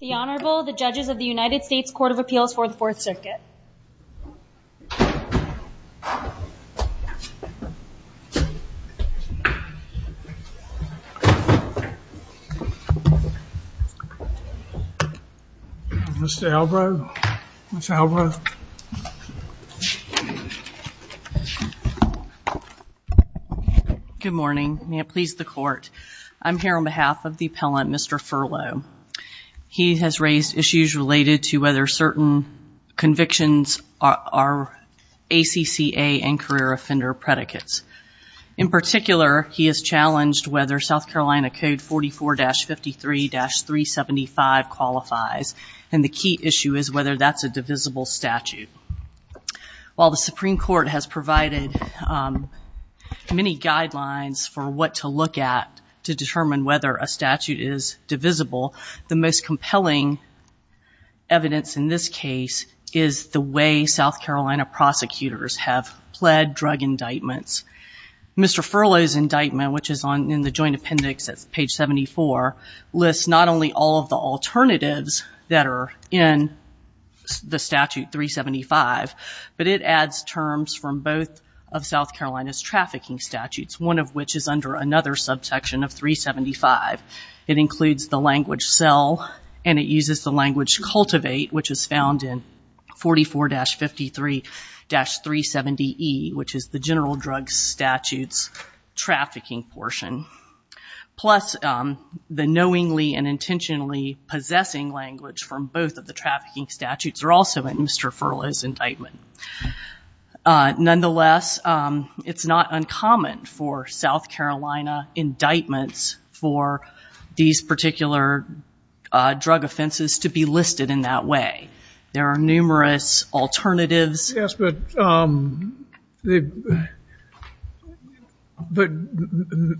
The Honorable, the Judges of the United States Court of Appeals for the Fourth Circuit Mr. Albro, Ms. Albro Good morning. May it please the Court. I'm here on behalf of the appellant, Mr. Furlow. He has raised issues related to whether certain convictions are ACCA and career offender predicates. In particular, he has challenged whether South Carolina Code 44-53-375 qualifies. And the key issue is whether that's a divisible statute. While the Supreme Court has provided many guidelines for what to look at to determine whether a statute is divisible, the most compelling evidence in this case is the way South Carolina prosecutors have pled drug indictments. Mr. Furlow's indictment, which is in the joint appendix at page 74, lists not only all of the alternatives that are in the statute 375, but it adds terms from both of South Carolina's trafficking statutes, one of which is under another subsection of 375. It includes the language sell and it uses the language cultivate, which is found in 44-53-370E, which is the general drug statutes trafficking portion. Plus, the knowingly and intentionally possessing language from both of the trafficking statutes are also in Mr. Furlow's indictment. Nonetheless, it's not uncommon for South Carolina indictments for these particular drug offenses to be listed in that way. There are numerous alternatives. Yes, but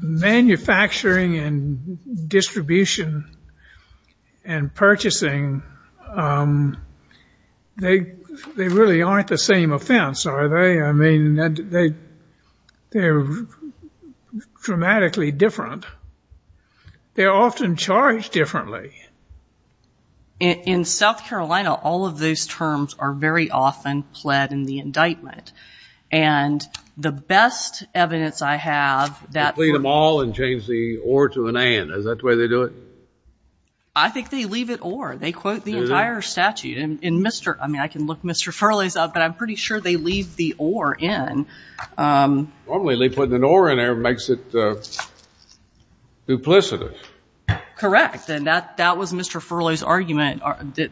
manufacturing and distribution and purchasing, they really aren't the same offense, are they? I mean, they're dramatically different. They're often charged differently. In South Carolina, all of those terms are very often pled in the indictment. And the best evidence I have that- They plead them all and change the or to an and. Is that the way they do it? I think they leave it or. They quote the entire statute. I mean, I can look Mr. Furlow's up, but I'm pretty sure they leave the or in. Normally, they put an or in there. It makes it duplicitous. Correct. And that was Mr. Furlow's argument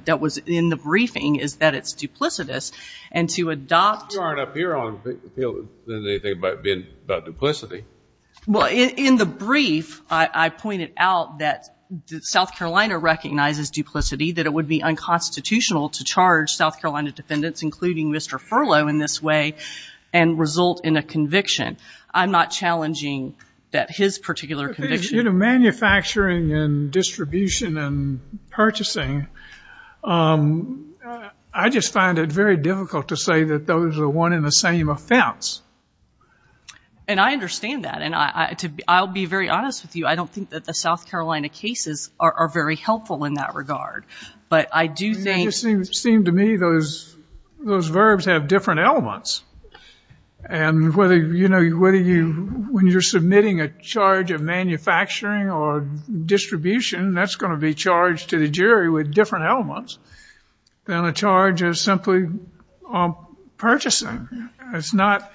that was in the briefing, is that it's duplicitous. And to adopt- You aren't up here on appeal. There isn't anything about duplicity. Well, in the brief, I pointed out that South Carolina recognizes duplicity, that it would be unconstitutional to charge South Carolina defendants, including Mr. Furlow, in this way and result in a conviction. I'm not challenging that his particular conviction- You know, manufacturing and distribution and purchasing, I just find it very difficult to say that those are one and the same offense. And I understand that. And I'll be very honest with you. I don't think that the South Carolina cases are very helpful in that regard. But I do think- Those verbs have different elements. And whether, you know, when you're submitting a charge of manufacturing or distribution, that's going to be charged to the jury with different elements than a charge of simply purchasing. It's not-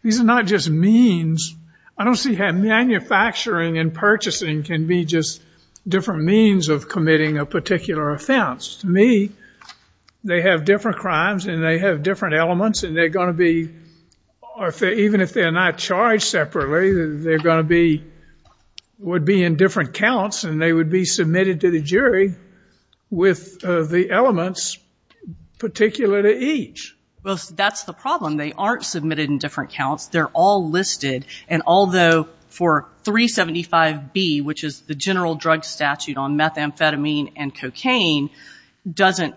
These are not just means. I don't see how manufacturing and purchasing can be just different means of committing a particular offense. To me, they have different crimes and they have different elements, and they're going to be- Even if they're not charged separately, they're going to be- would be in different counts, and they would be submitted to the jury with the elements particular to each. Well, that's the problem. They aren't submitted in different counts. They're all listed. And although for 375B, which is the general drug statute on methamphetamine and cocaine, doesn't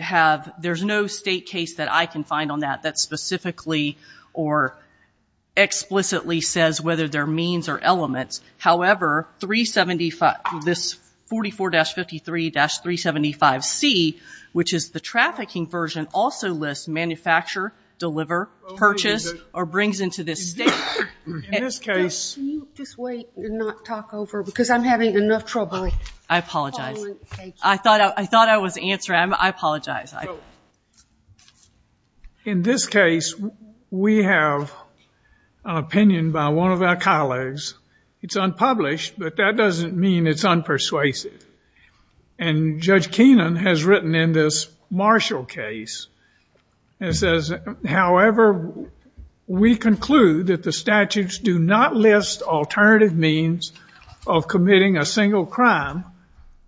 have- there's no state case that I can find on that that specifically or explicitly says whether they're means or elements. However, 375- this 44-53-375C, which is the trafficking version, also lists manufacture, deliver, purchase, or brings into this state. In this case- Can you just wait and not talk over? Because I'm having enough trouble. I apologize. I thought I was answering. I apologize. In this case, we have an opinion by one of our colleagues. It's unpublished, but that doesn't mean it's unpersuasive. And Judge Keenan has written in this Marshall case and says, however, we conclude that the statutes do not list alternative means of committing a single crime,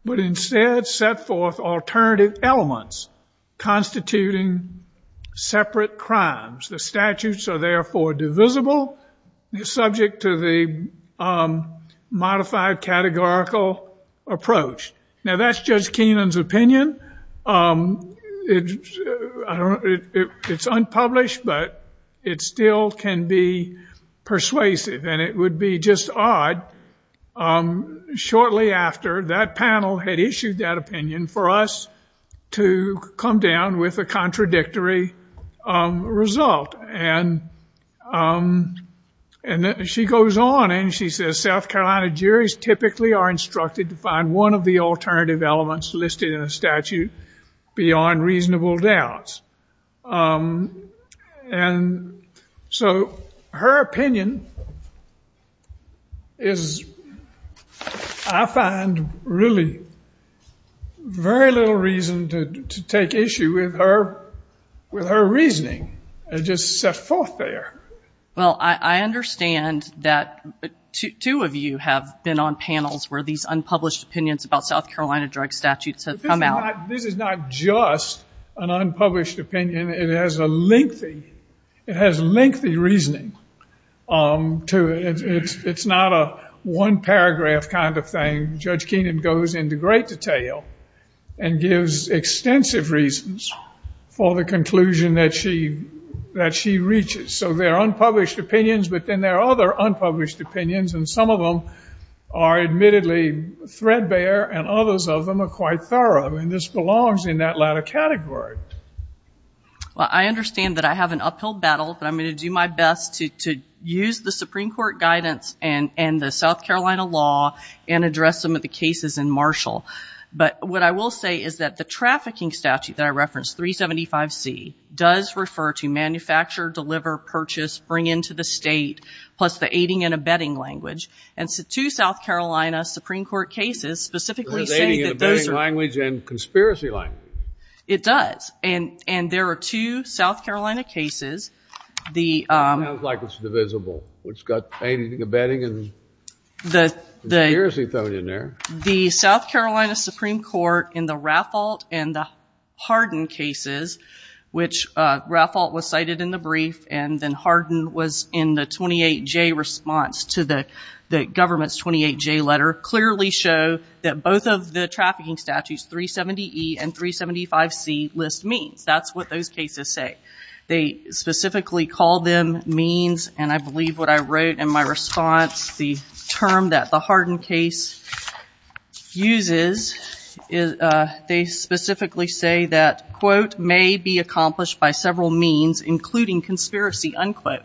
but instead set forth alternative elements constituting separate crimes. The statutes are therefore divisible, subject to the modified categorical approach. Now, that's Judge Keenan's opinion. It's unpublished, but it still can be persuasive, and it would be just odd shortly after that panel had issued that opinion for us to come down with a contradictory result. And she goes on, and she says, South Carolina juries typically are instructed to find one of the alternative elements listed in a statute beyond reasonable doubts. And so her opinion is I find really very little reason to take issue with her reasoning and just set forth there. Well, I understand that two of you have been on panels where these unpublished opinions about South Carolina drug statutes have come out. This is not just an unpublished opinion. It has lengthy reasoning to it. It's not a one paragraph kind of thing. Judge Keenan goes into great detail and gives extensive reasons for the conclusion that she reaches. So there are unpublished opinions, but then there are other unpublished opinions, and some of them are admittedly threadbare, and others of them are quite thorough. And this belongs in that latter category. Well, I understand that I have an uphill battle, but I'm going to do my best to use the Supreme Court guidance and the South Carolina law and address some of the cases in Marshall. But what I will say is that the trafficking statute that I referenced, 375C, does refer to manufacture, deliver, purchase, bring into the state, plus the aiding and abetting language. And two South Carolina Supreme Court cases specifically say that those are... It has aiding and abetting language and conspiracy language. It does. And there are two South Carolina cases. It sounds like it's divisible. It's got aiding and abetting and conspiracy thrown in there. The South Carolina Supreme Court in the Raffalt and the Hardin cases, which Raffalt was cited in the brief and then Hardin was in the 28J response to the government's 28J letter, clearly show that both of the trafficking statutes, 370E and 375C, list means. That's what those cases say. They specifically call them means, and I believe what I wrote in my response, the term that the Hardin case uses, they specifically say that, quote, may be accomplished by several means, including conspiracy, unquote.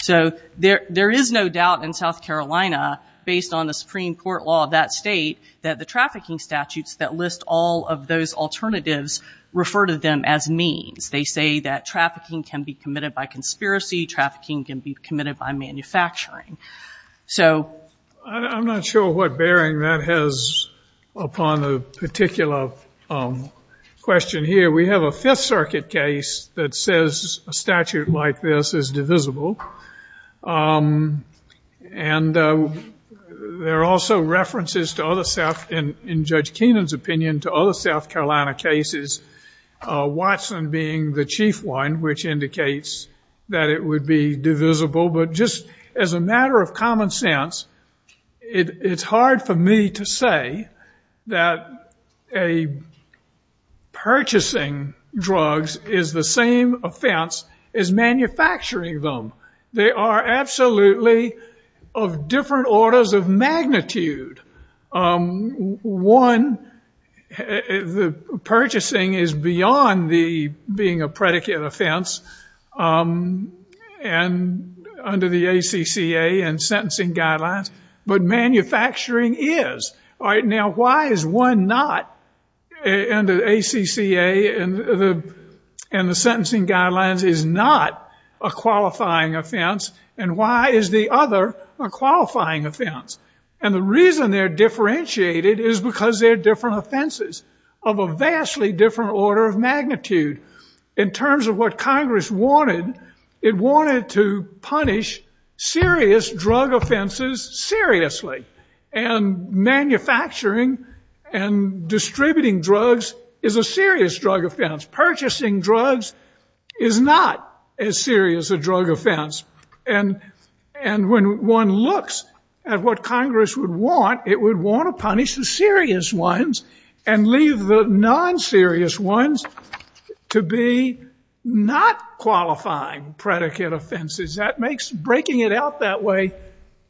So there is no doubt in South Carolina, based on the Supreme Court law of that state, that the trafficking statutes that list all of those alternatives refer to them as means. They say that trafficking can be committed by conspiracy. Trafficking can be committed by manufacturing. So... I'm not sure what bearing that has upon the particular question here. We have a Fifth Circuit case that says a statute like this is divisible. And there are also references to other South, in Judge Keenan's opinion, to other South Carolina cases, Watson being the chief one, which indicates that it would be divisible. But just as a matter of common sense, it's hard for me to say that purchasing drugs is the same offense as manufacturing them. They are absolutely of different orders of magnitude. One, the purchasing is beyond being a predicate offense. And under the ACCA and sentencing guidelines. But manufacturing is. All right, now, why is one not, under the ACCA and the sentencing guidelines, is not a qualifying offense, and why is the other a qualifying offense? And the reason they're differentiated is because they're different offenses of a vastly different order of magnitude. In terms of what Congress wanted, it wanted to punish serious drug offenses seriously. And manufacturing and distributing drugs is a serious drug offense. Purchasing drugs is not as serious a drug offense. And when one looks at what Congress would want, it would want to punish the serious ones and leave the non-serious ones to be not qualifying predicate offenses. Breaking it out that way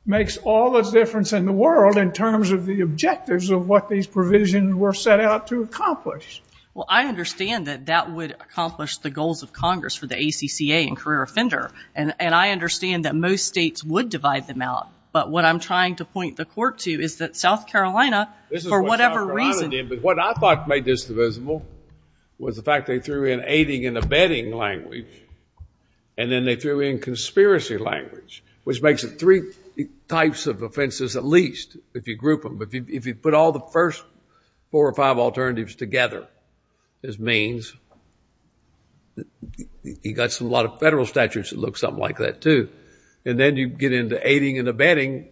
makes all the difference in the world in terms of the objectives of what these provisions were set out to accomplish. Well, I understand that that would accomplish the goals of Congress for the ACCA and career offender. And I understand that most states would divide them out. But what I'm trying to point the court to is that South Carolina, for whatever reason— This is what South Carolina did. But what I thought made this divisible was the fact they threw in aiding and abetting language. And then they threw in conspiracy language, which makes it three types of offenses at least, if you group them. But if you put all the first four or five alternatives together, this means you've got a lot of federal statutes that look something like that, too. And then you get into aiding and abetting.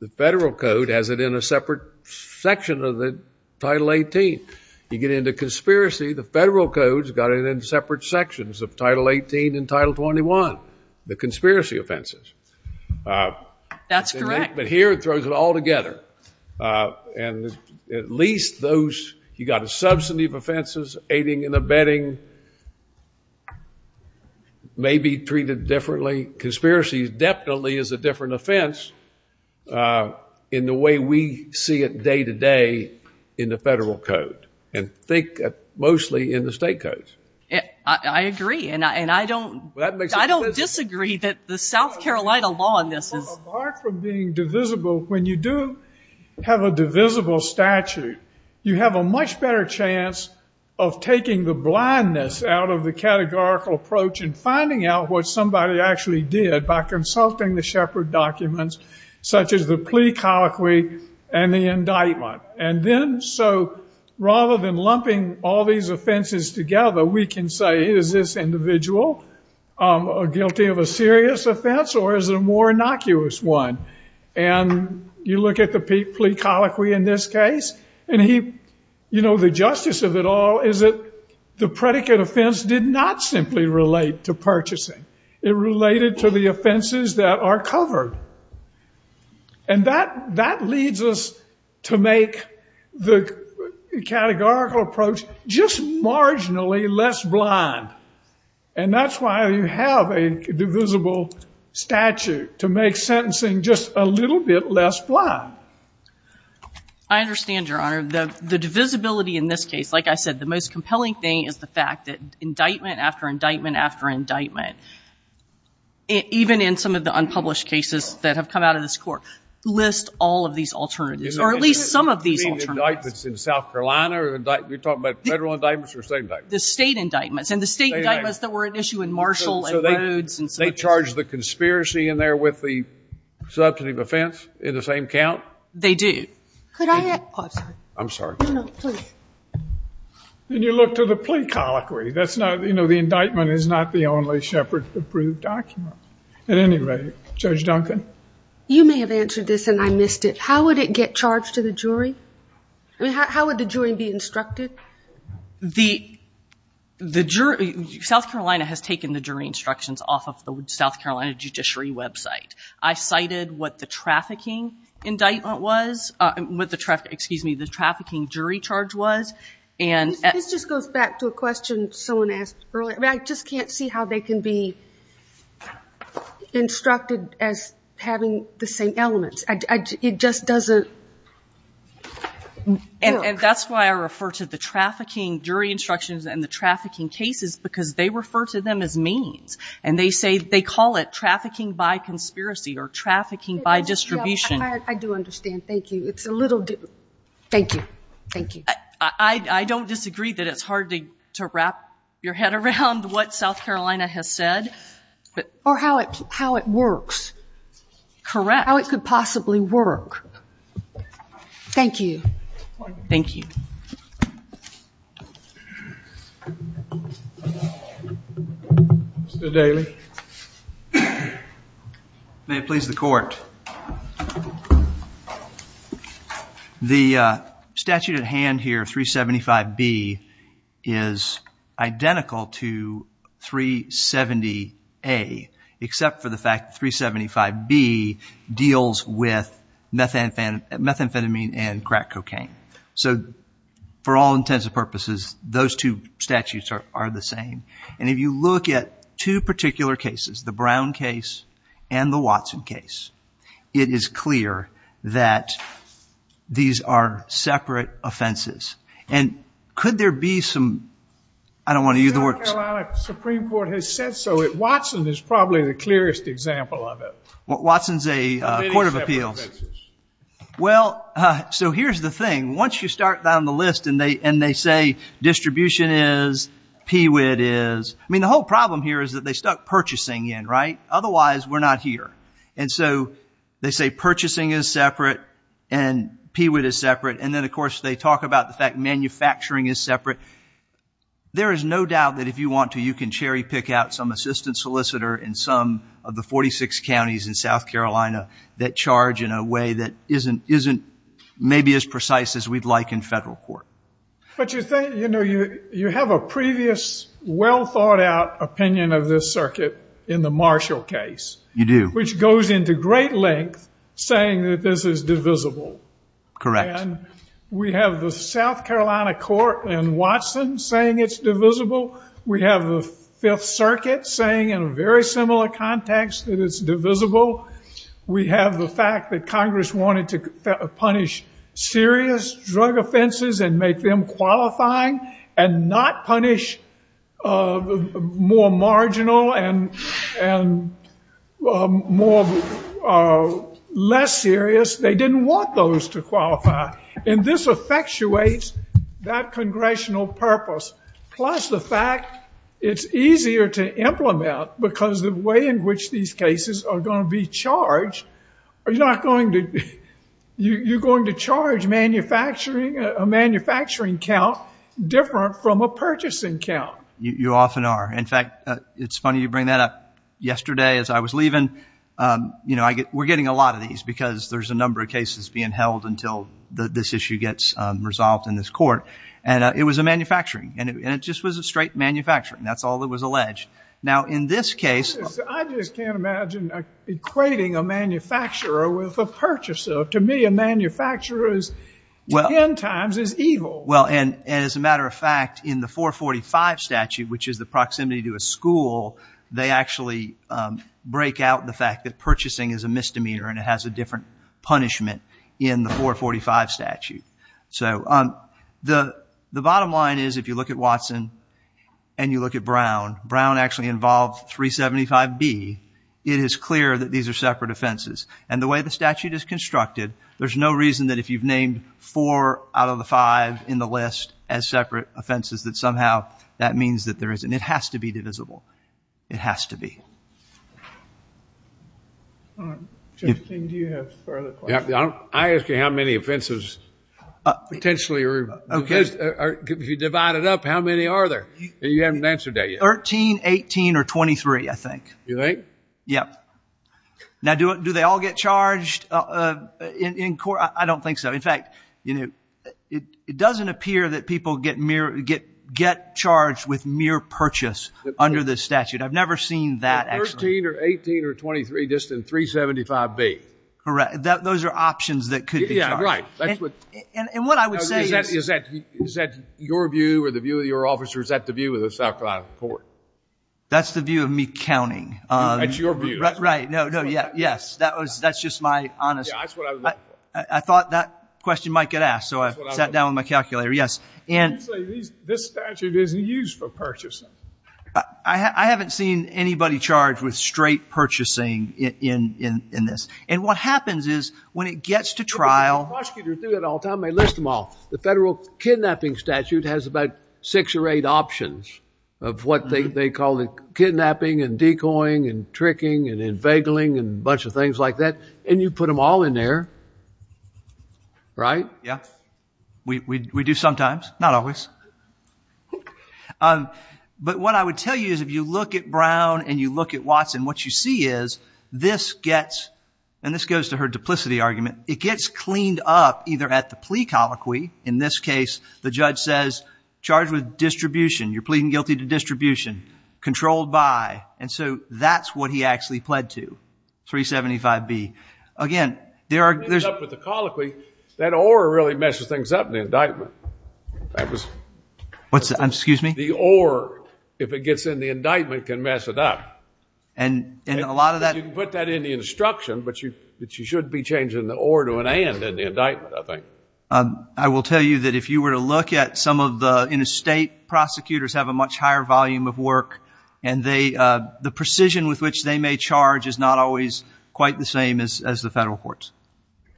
The federal code has it in a separate section of the Title 18. You get into conspiracy, the federal code's got it in separate sections of Title 18 and Title 21, the conspiracy offenses. That's correct. But here it throws it all together. And at least those—you've got a substantive offenses, aiding and abetting may be treated differently. Conspiracy definitely is a different offense in the way we see it day to day in the federal code. And think mostly in the state codes. I agree. And I don't disagree that the South Carolina law in this is— Well, apart from being divisible, when you do have a divisible statute, you have a much better chance of taking the blindness out of the categorical approach and finding out what somebody actually did by consulting the Shepard documents, such as the plea colloquy and the indictment. And then so rather than lumping all these offenses together, we can say, is this individual guilty of a serious offense or is it a more innocuous one? And you look at the plea colloquy in this case, and he— the predicate offense did not simply relate to purchasing. It related to the offenses that are covered. And that leads us to make the categorical approach just marginally less blind. And that's why you have a divisible statute, to make sentencing just a little bit less blind. I understand, Your Honor. The divisibility in this case, like I said, the most compelling thing is the fact that indictment after indictment after indictment, even in some of the unpublished cases that have come out of this court, lists all of these alternatives, or at least some of these alternatives. You mean indictments in South Carolina? You're talking about federal indictments or state indictments? The state indictments. And the state indictments that were at issue in Marshall and Rhodes and so forth. So they charge the conspiracy in there with the substantive offense in the same count? They do. I'm sorry. No, no, please. Then you look to the plea colloquy. That's not—you know, the indictment is not the only Shepard-approved document. At any rate, Judge Duncan? You may have answered this, and I missed it. How would it get charged to the jury? I mean, how would the jury be instructed? The jury—South Carolina has taken the jury instructions off of the South Carolina judiciary website. I cited what the trafficking indictment was—excuse me, the trafficking jury charge was. This just goes back to a question someone asked earlier. I just can't see how they can be instructed as having the same elements. It just doesn't work. And that's why I refer to the trafficking jury instructions and the trafficking cases, because they refer to them as means. And they say—they call it trafficking by conspiracy or trafficking by distribution. I do understand. Thank you. It's a little—thank you. Thank you. I don't disagree that it's hard to wrap your head around what South Carolina has said. Or how it works. Correct. How it could possibly work. Thank you. Thank you. Mr. Daly. May it please the court. The statute at hand here, 375B, is identical to 370A, except for the fact that 375B deals with methamphetamine and crack cocaine. So for all intents and purposes, those two statutes are the same. And if you look at two particular cases, the Brown case and the Watson case, it is clear that these are separate offenses. And could there be some—I don't want to use the word— The South Carolina Supreme Court has said so. Watson is probably the clearest example of it. Watson's a court of appeals. Well, so here's the thing. Once you start down the list and they say distribution is, PWID is, I mean the whole problem here is that they stuck purchasing in, right? Otherwise, we're not here. And so they say purchasing is separate and PWID is separate. And then, of course, they talk about the fact manufacturing is separate. There is no doubt that if you want to, you can cherry pick out some assistant solicitor in some of the 46 counties in South Carolina that charge in a way that isn't maybe as precise as we'd like in federal court. But you have a previous well thought out opinion of this circuit in the Marshall case. You do. Which goes into great length saying that this is divisible. Correct. And we have the South Carolina court in Watson saying it's divisible. We have the Fifth Circuit saying in a very similar context that it's divisible. We have the fact that Congress wanted to punish serious drug offenses and make them qualifying and not punish more marginal and less serious. They didn't want those to qualify. And this effectuates that congressional purpose. Plus the fact it's easier to implement because the way in which these cases are going to be charged, you're going to charge a manufacturing count different from a purchasing count. You often are. In fact, it's funny you bring that up. Yesterday as I was leaving, we're getting a lot of these because there's a number of cases being held until this issue gets resolved in this court. And it was a manufacturing. And it just was a straight manufacturing. That's all that was alleged. Now, in this case. I just can't imagine equating a manufacturer with a purchaser. To me, a manufacturer is, in times, is evil. Well, and as a matter of fact, in the 445 statute, which is the proximity to a school, they actually break out the fact that purchasing is a misdemeanor and it has a different punishment in the 445 statute. So the bottom line is if you look at Watson and you look at Brown, Brown actually involved 375B. It is clear that these are separate offenses. And the way the statute is constructed, there's no reason that if you've named four out of the five in the list as separate offenses, that somehow that means that there isn't. It has to be divisible. It has to be. Justine, do you have further questions? I ask you how many offenses potentially are, if you divide it up, how many are there? You haven't answered that yet. 13, 18, or 23, I think. You think? Yep. Now, do they all get charged in court? I don't think so. In fact, it doesn't appear that people get charged with mere purchase under this statute. I've never seen that actually. 13, or 18, or 23, just in 375B. Correct. Those are options that could be charged. Yeah, right. And what I would say is. Is that your view or the view of your officers? Is that the view of the South Carolina court? That's the view of me counting. That's your view. Right. No, no, yes. That's just my honest. Yeah, that's what I was looking for. I thought that question might get asked, so I sat down with my calculator. Yes. You say this statute isn't used for purchasing. I haven't seen anybody charged with straight purchasing in this. And what happens is when it gets to trial. Prosecutors do that all the time. They list them all. The federal kidnapping statute has about six or eight options of what they call kidnapping, and decoying, and tricking, and inveigling, and a bunch of things like that. And you put them all in there. Right? Yeah. We do sometimes. Not always. But what I would tell you is if you look at Brown and you look at Watson, what you see is this gets, and this goes to her duplicity argument, it gets cleaned up either at the plea colloquy. In this case, the judge says, charged with distribution. You're pleading guilty to distribution. Controlled by. And so that's what he actually pled to, 375B. Again, there are... Excuse me? The or, if it gets in the indictment, can mess it up. And a lot of that... You can put that in the instruction, but you should be changing the or to an and in the indictment, I think. I will tell you that if you were to look at some of the interstate prosecutors have a much higher volume of work, and the precision with which they may charge is not always quite the same as the federal courts.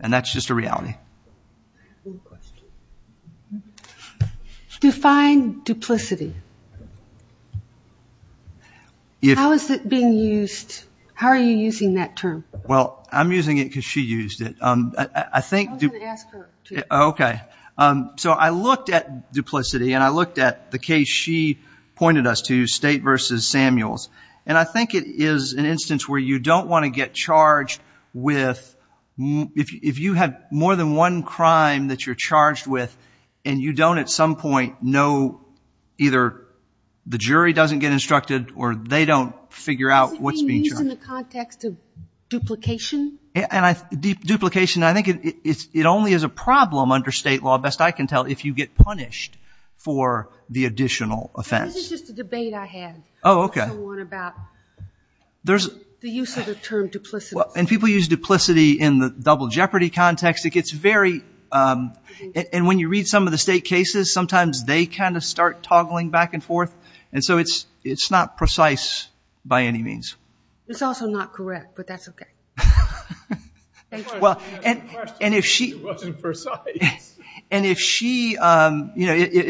And that's just a reality. Okay. Define duplicity. How is it being used? How are you using that term? Well, I'm using it because she used it. I think... I was going to ask her, too. Okay. So I looked at duplicity, and I looked at the case she pointed us to, State v. Samuels. And I think it is an instance where you don't want to get charged with... If you have more than one crime that you're charged with, and you don't at some point know either the jury doesn't get instructed or they don't figure out what's being charged... Is it being used in the context of duplication? Duplication, I think it only is a problem under State law, best I can tell, if you get punished for the additional offense. This is just a debate I had. Oh, okay. Also one about the use of the term duplicity. And people use duplicity in the double jeopardy context. It gets very... And when you read some of the State cases, sometimes they kind of start toggling back and forth. And so it's not precise by any means. It's also not correct, but that's okay. And if she... It wasn't precise. And if she... If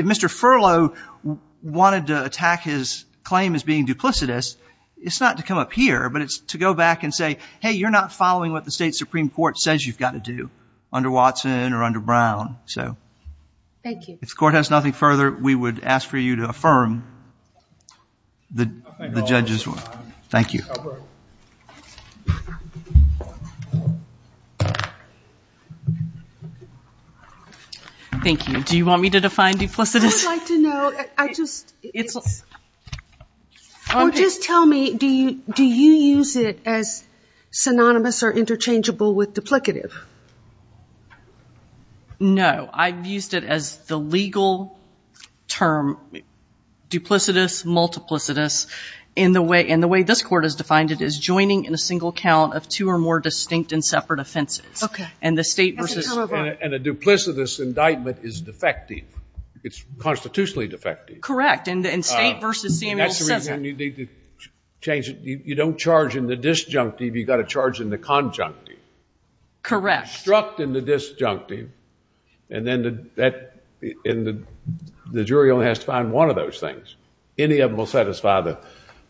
Mr. Furlow wanted to attack his claim as being duplicitous, it's not to come up here, but it's to go back and say, hey, you're not following what the State Supreme Court says you've got to do under Watson or under Brown. Thank you. If the Court has nothing further, we would ask for you to affirm the judge's... Thank you. Ms. Albrook. Thank you. Do you want me to define duplicitous? I would like to know. I just... It's... Or just tell me, do you use it as synonymous or interchangeable with duplicative? No. I've used it as the legal term duplicitous, multiplicitous, and the way this Court has defined it is joining in a single count of two or more distinct and separate offenses. Okay. And the State versus... And a duplicitous indictment is defective. It's constitutionally defective. Correct. And State versus Samuel... That's the reason you need to change it. You don't charge in the disjunctive. You've got to charge in the conjunctive. Correct. Struck in the disjunctive, and then the jury only has to find one of those things. Any of them will satisfy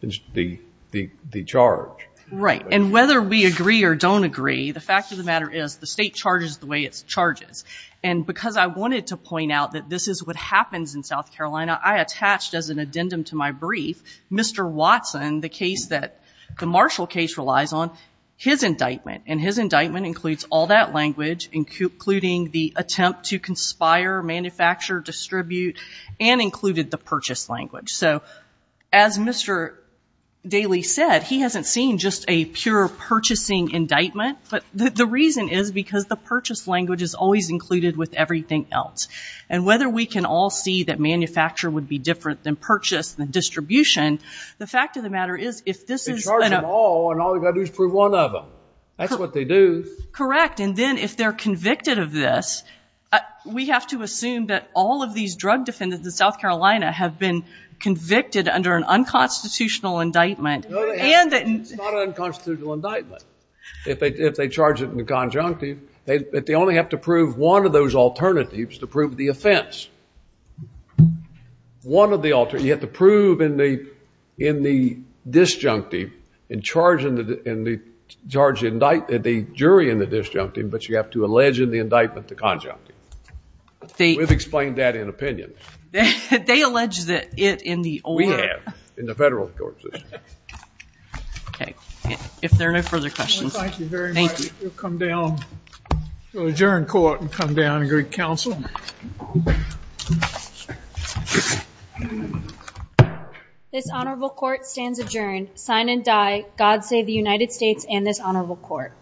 the charge. Right. And whether we agree or don't agree, the fact of the matter is, the State charges the way it charges. And because I wanted to point out that this is what happens in South Carolina, I attached as an addendum to my brief Mr. Watson, the case that the Marshall case relies on, his indictment. And his indictment includes all that language, including the attempt to conspire, manufacture, distribute, and included the purchase language. So as Mr. Daley said, he hasn't seen just a pure purchasing indictment. But the reason is because the purchase language is always included with everything else. And whether we can all see that manufacture would be different than purchase and distribution, the fact of the matter is, if this is... They charge them all, and all they've got to do is prove one of them. That's what they do. Correct. And then if they're convicted of this, we have to assume that all of these drug defendants in South Carolina have been convicted under an unconstitutional indictment. It's not an unconstitutional indictment. If they charge it in the conjunctive, they only have to prove one of those alternatives to prove the offense. One of the alternatives. You have to prove in the disjunctive and charge the jury in the disjunctive, but you have to allege in the indictment the conjunctive. We've explained that in opinion. They allege that it in the... We have, in the federal court system. Okay. If there are no further questions... Thank you very much. Thank you. We'll come down to adjourn court and come down and greet counsel. This honorable court stands adjourned. Sign and die. God save the United States and this honorable court.